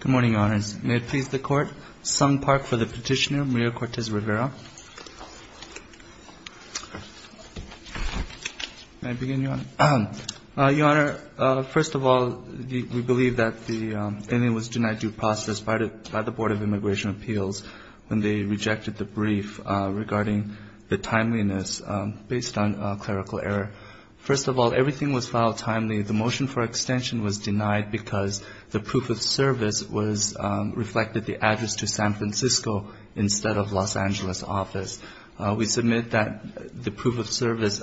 Good morning, Your Honors. May it please the Court, Sung Park for the Petitioner, Maria Cortez-Rivera. May I begin, Your Honor? Your Honor, first of all, we believe that the inmate was denied due process by the Board of Immigration Appeals when they rejected the brief regarding the timeliness based on clerical error. First of all, everything was filed timely. The motion for extension was denied because the proof of service reflected the address to San Francisco instead of Los Angeles office. We submit that the proof of service,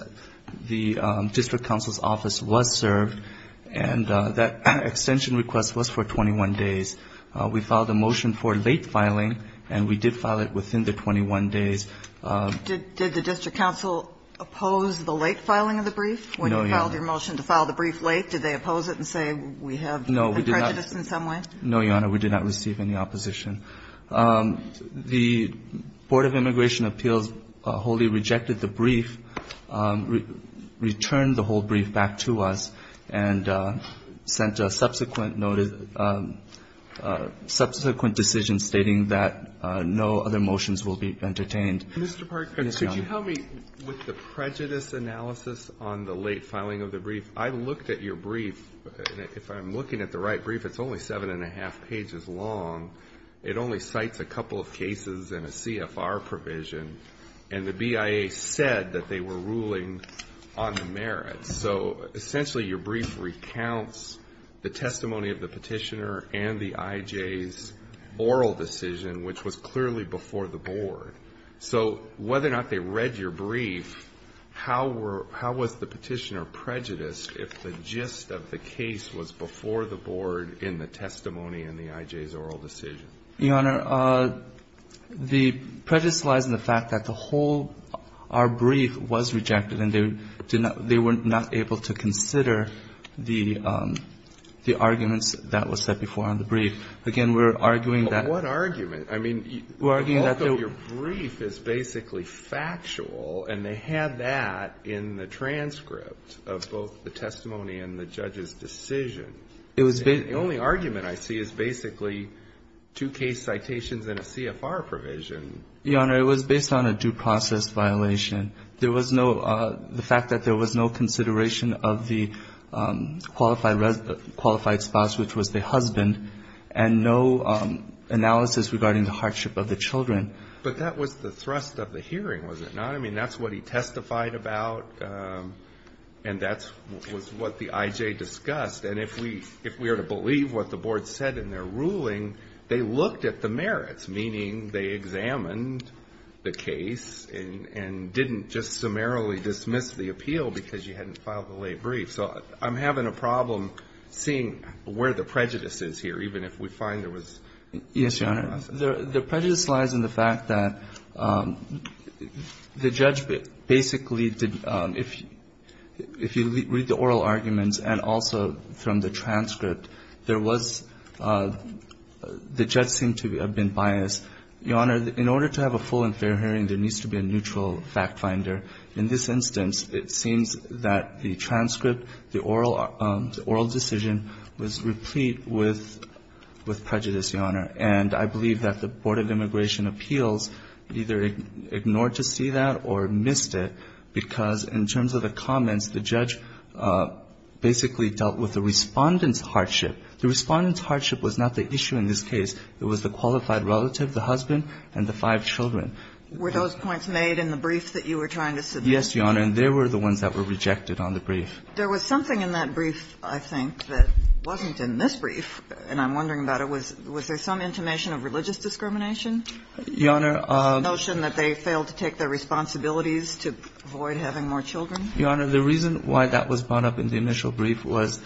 the district counsel's office was served, and that extension request was for 21 days. We filed a motion for late filing, and we did file it within the 21 days. Did the district counsel oppose the late filing of the brief? When you filed your motion to file the brief late, did they oppose it and say we have prejudice in some way? No, Your Honor, we did not receive any opposition. The Board of Immigration Appeals wholly rejected the brief, returned the whole brief back to us, and sent a subsequent decision stating that no other motions will be entertained. Mr. Parker, could you tell me, with the prejudice analysis on the late filing of the brief, I looked at your brief, and if I'm looking at the right brief, it's only 7 1⁄2 pages long. It only cites a couple of cases and a CFR provision, and the BIA said that they were ruling on the merits. So essentially, your brief recounts the testimony of the Petitioner and the I.J.'s oral decision, which was clearly before the Board. So whether or not they read your brief, how were — how was the Petitioner prejudiced if the gist of the case was before the Board in the testimony and the I.J.'s oral decision? Your Honor, the prejudice lies in the fact that the whole — our brief was rejected, and they were not able to consider the arguments that were set before on the brief. Again, we're arguing that — But what argument? I mean, the bulk of your brief is basically factual, and they had that in the transcript of both the testimony and the judge's decision. It was based — And the only argument I see is basically two case citations and a CFR provision. Your Honor, it was based on a due process violation. There was no — the fact that there was no consideration of the qualified spouse, which was the husband, and no analysis regarding the hardship of the children. But that was the thrust of the hearing, was it not? I mean, that's what he testified about, and that was what the I.J. discussed. And if we are to believe what the Board said in their ruling, they looked at the merits, meaning they examined the case and didn't just summarily dismiss the appeal because you hadn't filed the late brief. So I'm having a problem seeing where the prejudice is here, even if we find there was a due process. Yes, Your Honor. The prejudice lies in the fact that the judge basically did — if you read the oral arguments and also from the transcript, there was — the judge seemed to have been biased. Your Honor, in order to have a full and fair hearing, there needs to be a neutral fact finder. In this instance, it seems that the transcript, the oral decision was replete with prejudice, Your Honor. And I believe that the Board of Immigration Appeals either ignored to see that or missed it, because in terms of the comments, the judge basically dealt with the Respondent's hardship. The Respondent's hardship was not the issue in this case. It was the qualified relative, the husband, and the five children. Were those points made in the brief that you were trying to submit? Yes, Your Honor. And they were the ones that were rejected on the brief. There was something in that brief, I think, that wasn't in this brief, and I'm wondering about it. Your Honor, the notion that the judge was biased. The notion that they failed to take their responsibilities to avoid having more children. Your Honor, the reason why that was brought up in the initial brief was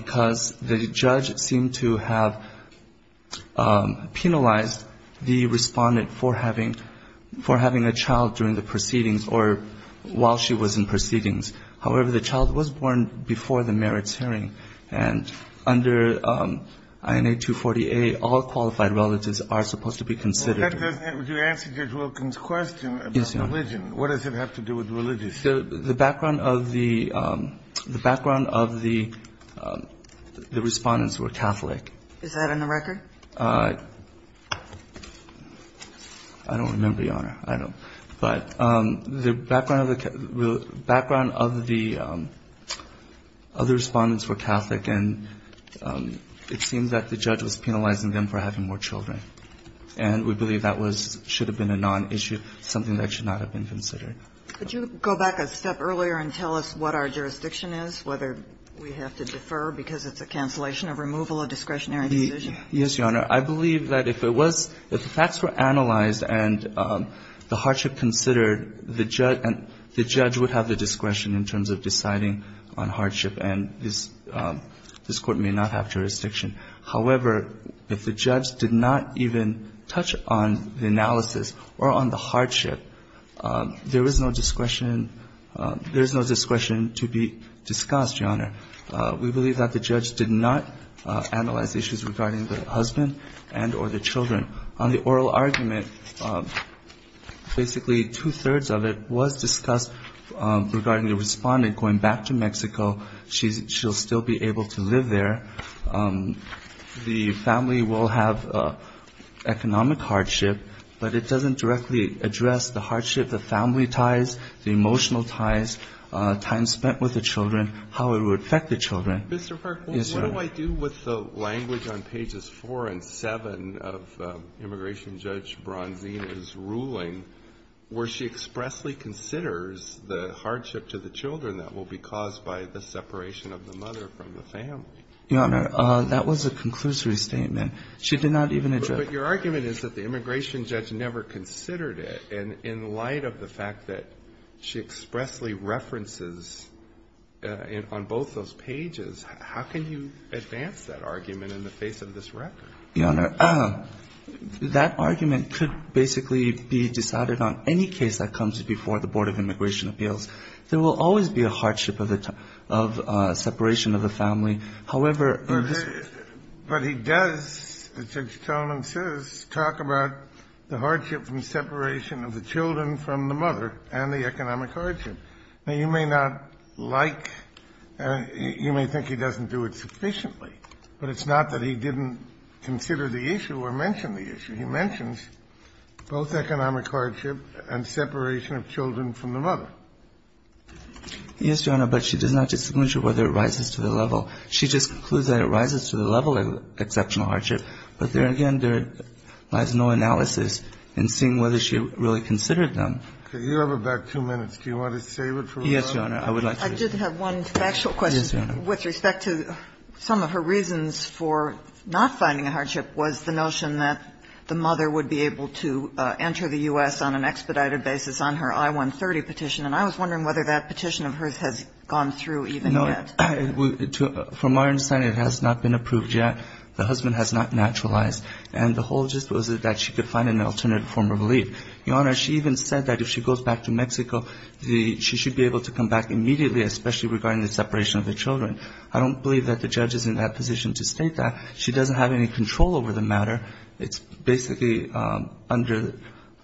because the judge seemed to have penalized the Respondent for having — for having a child during the proceedings or while she was in proceedings. However, the child was born before the merits hearing, and under INA 240A, all qualified relatives are supposed to be considered. But that doesn't answer Judge Wilken's question about religion. What does it have to do with religion? The background of the — the background of the Respondents were Catholic. Is that on the record? I don't remember, Your Honor. I don't. But the background of the — the background of the other Respondents were Catholic, and it seems that the judge was penalizing them for having more children. And we believe that was — should have been a nonissue, something that should not have been considered. Could you go back a step earlier and tell us what our jurisdiction is, whether we have to defer because it's a cancellation, a removal, a discretionary decision? Yes, Your Honor. I believe that if it was — if the facts were analyzed and the hardship considered, the judge — and the judge would have the discretion in terms of deciding on hardship, and this Court may not have jurisdiction. However, if the judge did not even touch on the analysis or on the hardship, there is no discretion — there is no discretion to be discussed, Your Honor. We believe that the judge did not analyze issues regarding the husband and or the children. On the oral argument, basically two-thirds of it was discussed regarding the Respondent going back to Mexico. She's — she'll still be able to live there. The family will have economic hardship, but it doesn't directly address the hardship, the family ties, the emotional ties, time spent with the children, how it would affect the children. Mr. Park, what do I do with the language on pages 4 and 7 of Immigration Judge Bronzina's ruling where she expressly considers the hardship to the children that will be caused by the separation of the mother from the family? Your Honor, that was a conclusory statement. She did not even address — But your argument is that the Immigration Judge never considered it, and in light of the fact that she expressly references on both those pages, how can you advance that argument in the face of this record? Your Honor, that argument could basically be decided on any case that comes before the Board of Immigration Appeals. There will always be a hardship of the — of separation of the family. However, in this case — But he does, as Judge Tolan says, talk about the hardship from separation of the children from the mother and the economic hardship. Now, you may not like — you may think he doesn't do it sufficiently, but it's not that he didn't consider the issue or mention the issue. He mentions both economic hardship and separation of children from the mother. Yes, Your Honor, but she does not disclose whether it rises to the level. She just concludes that it rises to the level of exceptional hardship. But there, again, there lies no analysis in seeing whether she really considered them. Okay. You have about two minutes. Do you want to save it for later? Yes, Your Honor. I did have one factual question with respect to some of her reasons for not finding a hardship was the notion that the mother would be able to enter the U.S. on an expedited basis on her I-130 petition. And I was wondering whether that petition of hers has gone through even yet. No. From our understanding, it has not been approved yet. The husband has not naturalized. And the whole gist was that she could find an alternate form of relief. Your Honor, she even said that if she goes back to Mexico, she should be able to come back immediately, especially regarding the separation of the children. I don't believe that the judge is in that position to state that. She doesn't have any control over the matter. It's basically under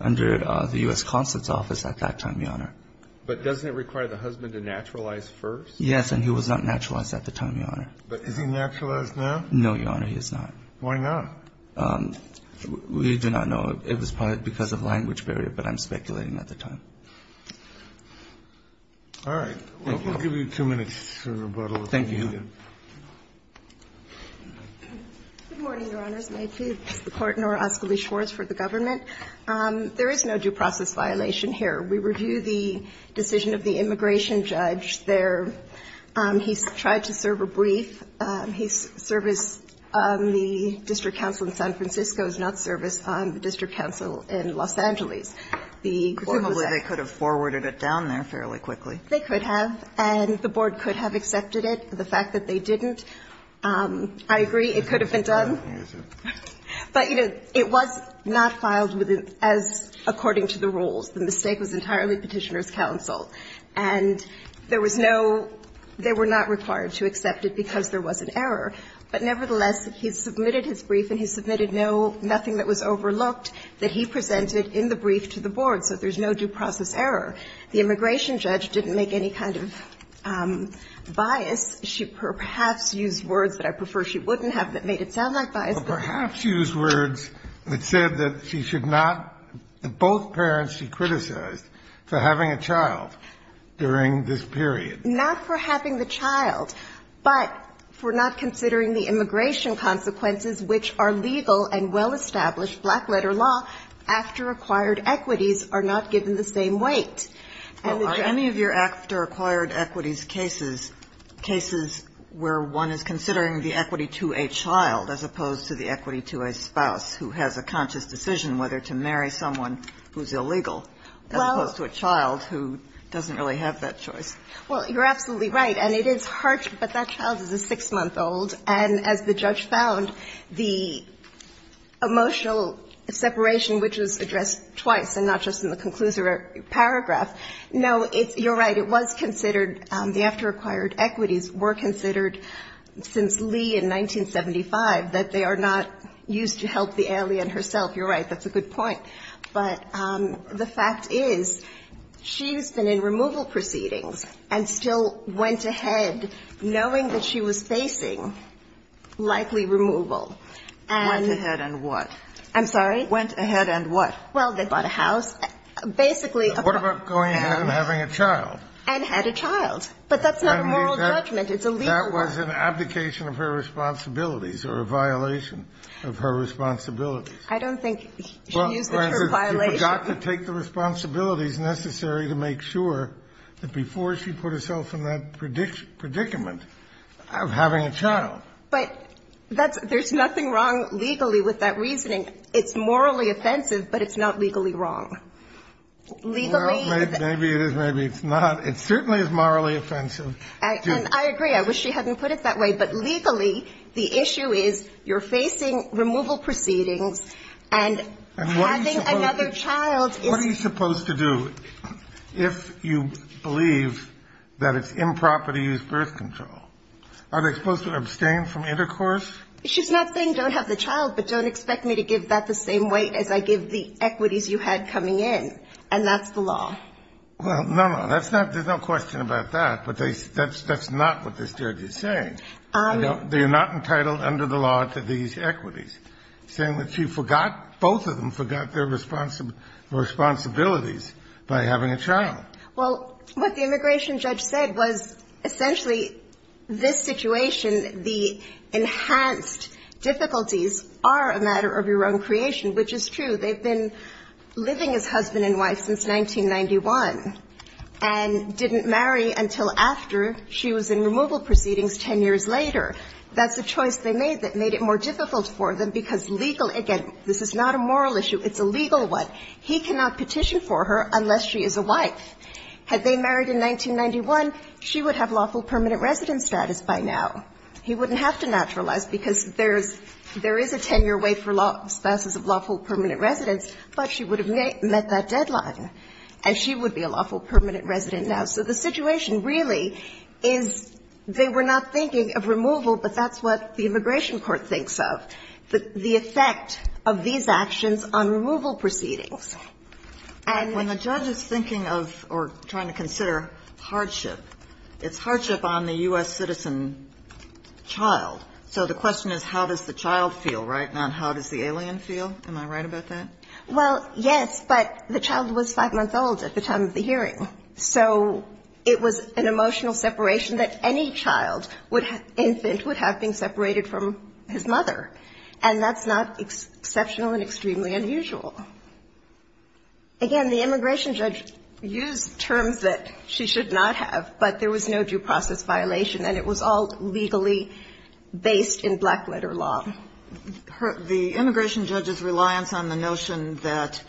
the U.S. Consulate's office at that time, Your Honor. But doesn't it require the husband to naturalize first? Yes. And he was not naturalized at the time, Your Honor. But is he naturalized now? No, Your Honor, he is not. Why not? We do not know. It was probably because of language barrier. But I'm speculating at the time. All right. We'll give you two minutes for rebuttal. Thank you, Your Honor. Good morning, Your Honors. May it please the Court. Nora Ascoli-Schwartz for the government. There is no due process violation here. We review the decision of the immigration judge there. He tried to serve a brief. His service on the district council in San Francisco is not service on the district council in Los Angeles. The court was at. Probably they could have forwarded it down there fairly quickly. They could have. And the board could have accepted it. The fact that they didn't, I agree, it could have been done. But, you know, it was not filed as according to the rules. The mistake was entirely petitioner's counsel. And there was no they were not required to accept it because there was an error. But, nevertheless, he submitted his brief and he submitted no, nothing that was overlooked that he presented in the brief to the board. So there's no due process error. The immigration judge didn't make any kind of bias. She perhaps used words that I prefer she wouldn't have that made it sound like bias. But perhaps used words that said that she should not, that both parents she criticized for having a child during this period. Not for having the child, but for not considering the immigration consequences which are legal and well-established black-letter law after acquired equities are not given the same weight. Kagan Well, are any of your after acquired equities cases, cases where one is considering the equity to a child as opposed to the equity to a spouse who has a conscious decision whether to marry someone who's illegal as opposed to a child who doesn't really have that choice? Well, you're absolutely right. And it is harsh, but that child is a 6-month-old. And as the judge found, the emotional separation which was addressed twice and not just in the conclusory paragraph. No, it's, you're right. It was considered, the after acquired equities were considered since Lee in 1975 that they are not used to help the alien herself. You're right. That's a good point. But the fact is she's been in removal proceedings and still went ahead knowing that she was facing likely removal. And Went ahead and what? I'm sorry? Went ahead and what? Well, they bought a house. Basically. What about going ahead and having a child? And had a child. But that's not a moral judgment. It's a legal one. That was an abdication of her responsibilities or a violation of her responsibilities. I don't think she used the term violation. Well, granted, she forgot to take the responsibilities necessary to make sure that before she put herself in that predicament of having a child. But that's, there's nothing wrong legally with that reasoning. It's morally offensive, but it's not legally wrong. Well, maybe it is, maybe it's not. It certainly is morally offensive. And I agree. I wish she hadn't put it that way. But legally, the issue is you're facing removal proceedings and having another child is. And what are you supposed to do if you believe that it's improper to use birth control? Are they supposed to abstain from intercourse? She's not saying don't have the child, but don't expect me to give that the same weight as I give the equities you had coming in. And that's the law. Well, no, no, that's not, there's no question about that. But that's not what this judge is saying. They are not entitled under the law to these equities. Saying that she forgot, both of them forgot their responsibilities by having a child. Well, what the immigration judge said was essentially this situation, the enhanced difficulties are a matter of your own creation, which is true. They've been living as husband and wife since 1991 and didn't marry until after she was in removal proceedings 10 years later. That's a choice they made that made it more difficult for them because legal, again, this is not a moral issue. It's a legal one. He cannot petition for her unless she is a wife. Had they married in 1991, she would have lawful permanent resident status by now. He wouldn't have to naturalize because there is a 10-year wait for spouses of lawful permanent residents, but she would have met that deadline and she would be a lawful permanent resident now. So the situation really is they were not thinking of removal, but that's what the And when the judge is thinking of or trying to consider hardship, it's hardship on the U.S. citizen child. So the question is how does the child feel, right, not how does the alien feel. Am I right about that? Well, yes, but the child was 5 months old at the time of the hearing. So it was an emotional separation that any child, infant, would have being separated from his mother. And that's not exceptional and extremely unusual. Again, the immigration judge used terms that she should not have, but there was no due process violation and it was all legally based in black letter law. The immigration judge's reliance on the notion that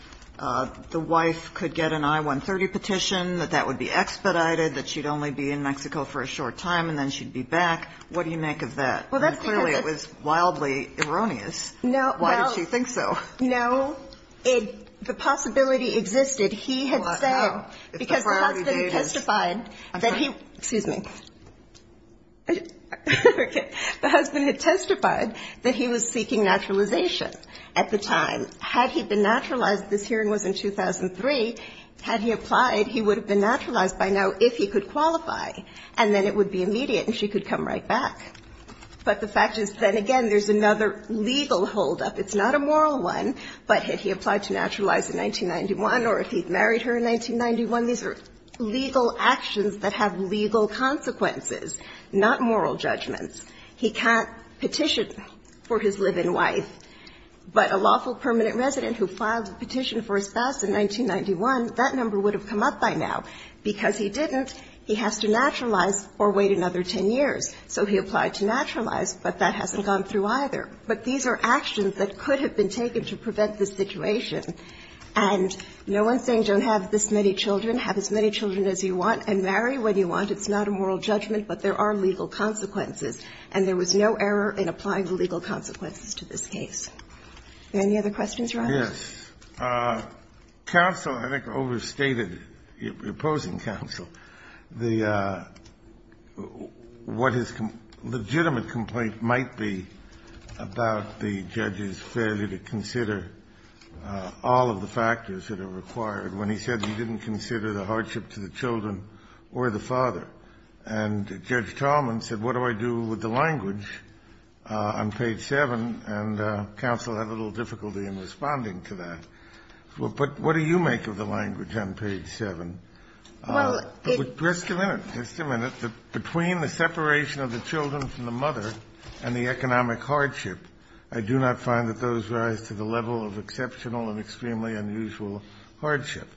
the wife could get an I-130 petition, that that would be expedited, that she'd only be in Mexico for a short time and then she'd be back, what do you make of that? Clearly it was wildly erroneous. Why did she think so? No, the possibility existed. He had said, because the husband testified that he, excuse me, the husband had testified that he was seeking naturalization at the time. Had he been naturalized, this hearing was in 2003, had he applied, he would have been naturalized by now if he could qualify and then it would be immediate and she could come right back. But the fact is, then again, there's another legal holdup. It's not a moral one, but had he applied to naturalize in 1991 or if he'd married her in 1991, these are legal actions that have legal consequences, not moral judgments. He can't petition for his live-in wife, but a lawful permanent resident who filed a petition for his spouse in 1991, that number would have come up by now. Because he didn't, he has to naturalize or wait another 10 years. So he applied to naturalize, but that hasn't gone through either. But these are actions that could have been taken to prevent this situation. And no one's saying don't have this many children. Have as many children as you want and marry when you want. It's not a moral judgment, but there are legal consequences. And there was no error in applying the legal consequences to this case. Any other questions, Your Honor? Yes. Counsel, I think, overstated, opposing counsel, the what his legitimate complaint might be about the judge's failure to consider all of the factors that are required when he said he didn't consider the hardship to the children or the father. And Judge Talman said, what do I do with the language on page 7? And counsel had a little difficulty in responding to that. But what do you make of the language on page 7? Just a minute. Just a minute. Between the separation of the children from the mother and the economic hardship, I do not find that those rise to the level of exceptional and extremely unusual hardship.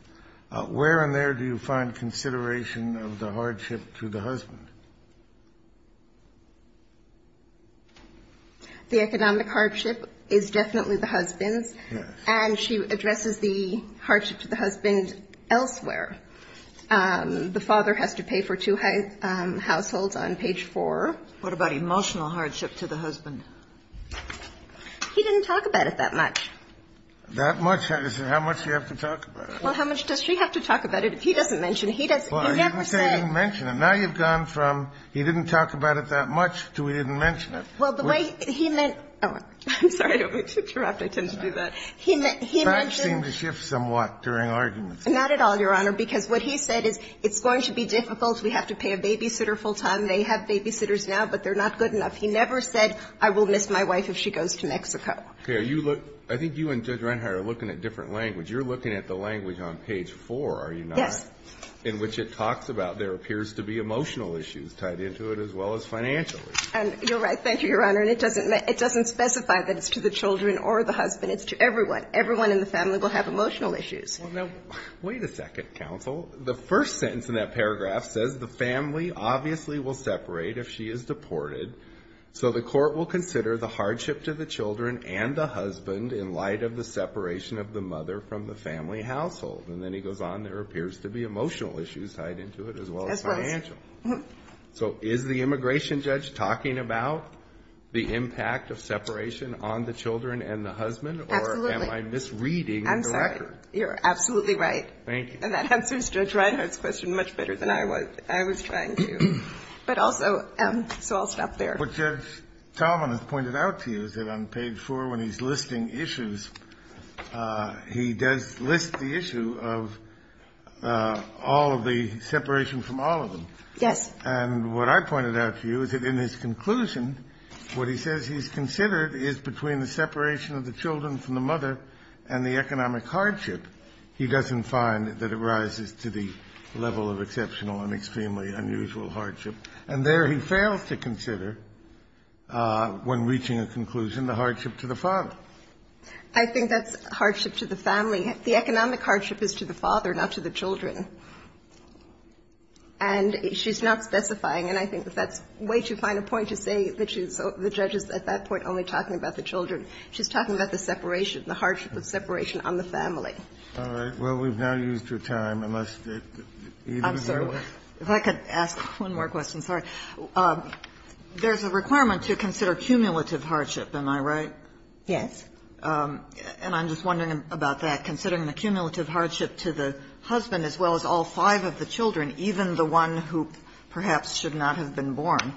Where in there do you find consideration of the hardship to the husband? The economic hardship is definitely the husband's. And she addresses the hardship to the husband elsewhere. The father has to pay for two households on page 4. What about emotional hardship to the husband? He didn't talk about it that much. That much? How much do you have to talk about it? Well, how much does she have to talk about it? If he doesn't mention it, he doesn't. He never said. He didn't mention it. Now you've gone from he didn't talk about it that much to he didn't mention it. Well, the way he meant to do that, he mentioned. Facts seem to shift somewhat during arguments. Not at all, Your Honor, because what he said is it's going to be difficult. We have to pay a babysitter full time. They have babysitters now, but they're not good enough. He never said I will miss my wife if she goes to Mexico. Okay. I think you and Judge Reinhardt are looking at different language. You're looking at the language on page 4, are you not? Yes. In which it talks about there appears to be emotional issues tied into it as well as financial issues. And you're right. Thank you, Your Honor. And it doesn't specify that it's to the children or the husband. It's to everyone. Everyone in the family will have emotional issues. Well, now, wait a second, counsel. The first sentence in that paragraph says the family obviously will separate if she is deported. So the court will consider the hardship to the children and the husband in light of the separation of the mother from the family household. And then he goes on, there appears to be emotional issues tied into it as well as financial. So is the immigration judge talking about the impact of separation on the children and the husband? Absolutely. Or am I misreading the record? I'm sorry. You're absolutely right. Thank you. And that answers Judge Reinhardt's question much better than I was. I was trying to. But also, so I'll stop there. What Judge Talman has pointed out to you is that on page 4 when he's listing issues, he does list the issue of all of the separation from all of them. Yes. And what I pointed out to you is that in his conclusion, what he says he's considered is between the separation of the children from the mother and the economic hardship, he doesn't find that it rises to the level of exceptional and extremely unusual hardship. And there he fails to consider, when reaching a conclusion, the hardship to the father. I think that's hardship to the family. The economic hardship is to the father, not to the children. And she's not specifying, and I think that that's way too fine a point to say that she's so the judge is at that point only talking about the children. She's talking about the separation, the hardship of separation on the family. All right. Well, we've now used your time. I'm sorry. If I could ask one more question. Sorry. There's a requirement to consider cumulative hardship. Am I right? Yes. And I'm just wondering about that. Considering the cumulative hardship to the husband as well as all five of the children, even the one who perhaps should not have been born,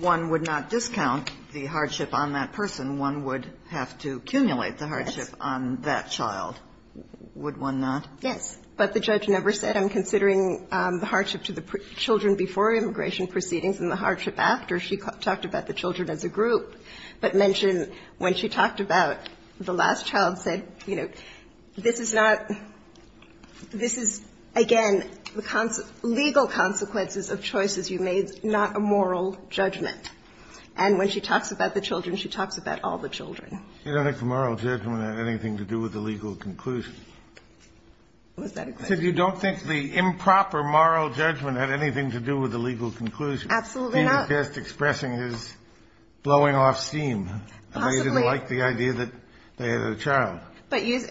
one would not discount the hardship on that person. One would have to accumulate the hardship on that child. Yes. Would one not? Yes. But the judge never said, I'm considering the hardship to the children before immigration proceedings and the hardship after. She talked about the children as a group, but mentioned when she talked about the last child, said, you know, this is not – this is, again, the legal consequences of choices you made, not a moral judgment. And when she talks about the children, she talks about all the children. You don't think the moral judgment had anything to do with the legal conclusion. Was that a question? She said you don't think the improper moral judgment had anything to do with the legal conclusion. Absolutely not. She was just expressing his blowing off steam. Possibly. That they didn't like the idea that they had a child. But you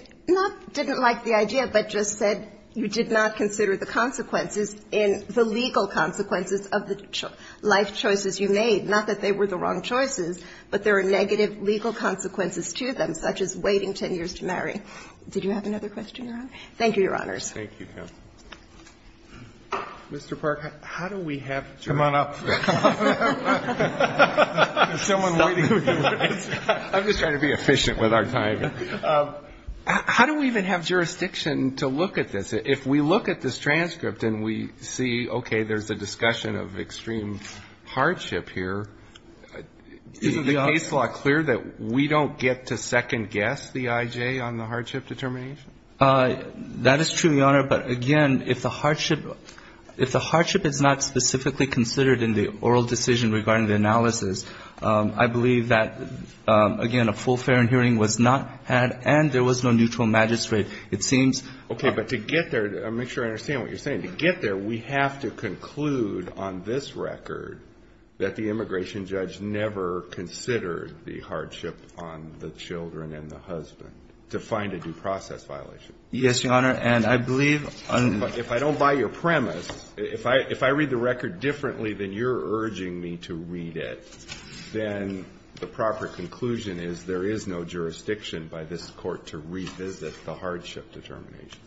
didn't like the idea, but just said you did not consider the consequences in the legal consequences of the life choices you made, not that they were the wrong choices, but there are negative legal consequences to them, such as waiting 10 years to marry. Did you have another question, Your Honor? Thank you, Your Honors. Thank you, counsel. Mr. Park, how do we have jurisdiction? Come on up. I'm just trying to be efficient with our time. How do we even have jurisdiction to look at this? If we look at this transcript and we see, okay, there's a discussion of extreme hardship here, isn't the case law clear that we don't get to second-guess the I.J. on the hardship determination? That is true, Your Honor. But, again, if the hardship is not specifically considered in the oral decision regarding the analysis, I believe that, again, a full fair and hearing was not had and there was no neutral magistrate. It seems... Okay, but to get there, to make sure I understand what you're saying, to get there, we have to conclude on this record that the immigration judge never considered the hardship on the children and the husband to find a due process violation. Yes, Your Honor. And I believe... If I don't buy your premise, if I read the record differently than you're urging me to read it, then the proper conclusion is there is no jurisdiction by this court to revisit the hardship determination.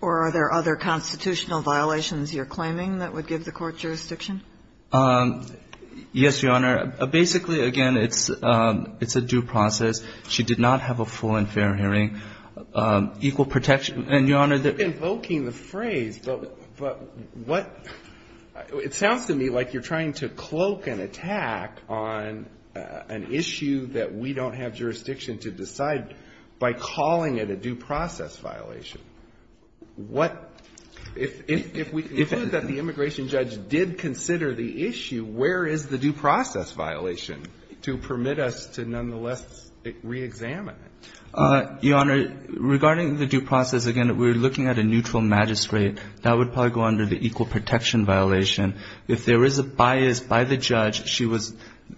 Or are there other constitutional violations you're claiming that would give the court jurisdiction? Yes, Your Honor. Basically, again, it's a due process. She did not have a full and fair hearing. Equal protection. And, Your Honor, the... You're invoking the phrase, but what — it sounds to me like you're trying to cloak an attack on an issue that we don't have jurisdiction to decide by calling it a due process violation. What — if we conclude that the immigration judge did consider the issue, where is the due process violation to permit us to nonetheless reexamine it? Your Honor, regarding the due process, again, we're looking at a neutral magistrate. That would probably go under the equal protection violation. If there is a bias by the judge, she was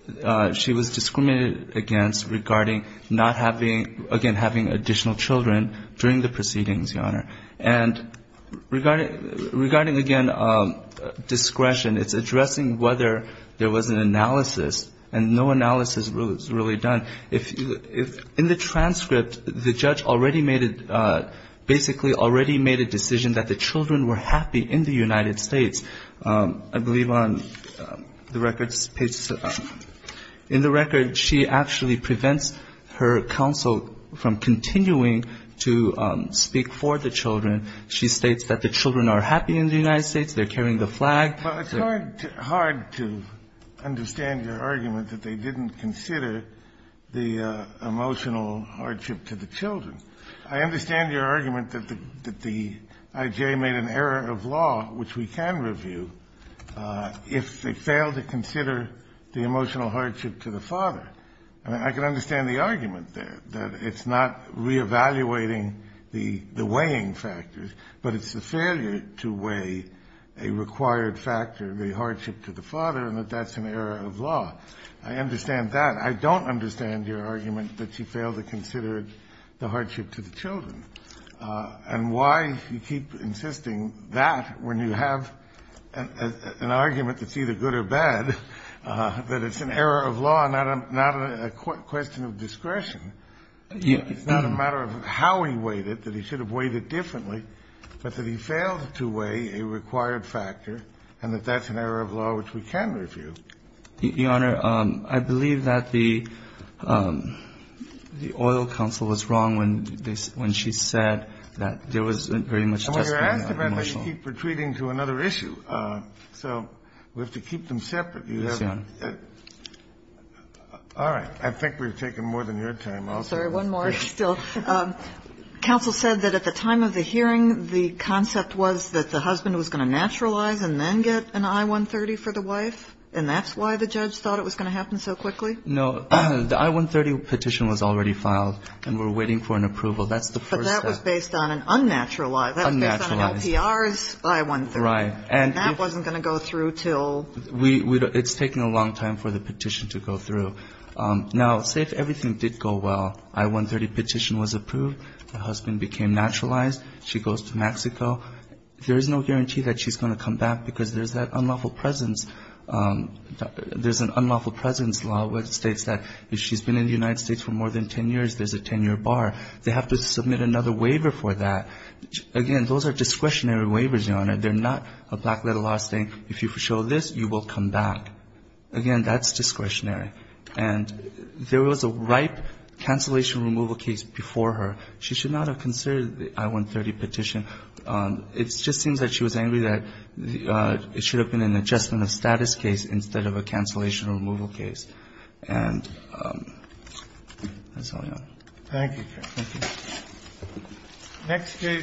discriminated against regarding not having — again, having additional children during the proceedings, Your Honor. And regarding — regarding, again, discretion, it's addressing whether there was an analysis and no analysis was really done. If — in the transcript, the judge already made a — basically already made a decision that the children were happy in the United States. I believe on the record's page — in the record, she actually prevents her counsel from continuing to speak for the children. She states that the children are happy in the United States. They're carrying the flag. Kennedy. Well, it's hard to understand your argument that they didn't consider the emotional hardship to the children. I understand your argument that the I.J. made an error of law, which we can review, if they fail to consider the emotional hardship to the father. I mean, I can understand the argument there, that it's not reevaluating the weighing factors, but it's the failure to weigh a required factor, the hardship to the father, and that that's an error of law. I understand that. I don't understand your argument that she failed to consider the hardship to the children. And why you keep insisting that when you have an argument that's either good or bad, that it's an error of law and not a question of discretion. It's not a matter of how he weighed it, that he should have weighed it differently, but that he failed to weigh a required factor, and that that's an error of law which we can review. Your Honor, I believe that the oil counsel was wrong when she said that there was very much just emotional hardship. This is an issue of the law, and we have to keep retreating to another issue. So we have to keep them separate. You have to keep them separate. All right. I think we've taken more than your time. I'll take one more. Still, counsel said that at the time of the hearing, the concept was that the husband was going to naturalize and then get an I-130 for the wife, and that's why the judge thought it was going to happen so quickly? No. The I-130 petition was already filed, and we're waiting for an approval. That's the first step. But that was based on an unnatural law. Unnaturalized. That was based on an LPR's I-130. Right. And that wasn't going to go through until we do it. It's taken a long time for the petition to go through. Now, say if everything did go well, I-130 petition was approved, the husband became naturalized, she goes to Mexico, there is no guarantee that she's going to come back because there's that unlawful presence. There's an unlawful presence law which states that if she's been in the United States for more than 10 years, there's a 10-year bar. They have to submit another waiver for that. Again, those are discretionary waivers, Your Honor. They're not a black-letter law saying if you show this, you will come back. Again, that's discretionary. And there was a ripe cancellation removal case before her. She should not have considered the I-130 petition. It just seems that she was angry that it should have been an adjustment of status case instead of a cancellation or removal case. And that's all I have. Thank you, Your Honor. Thank you.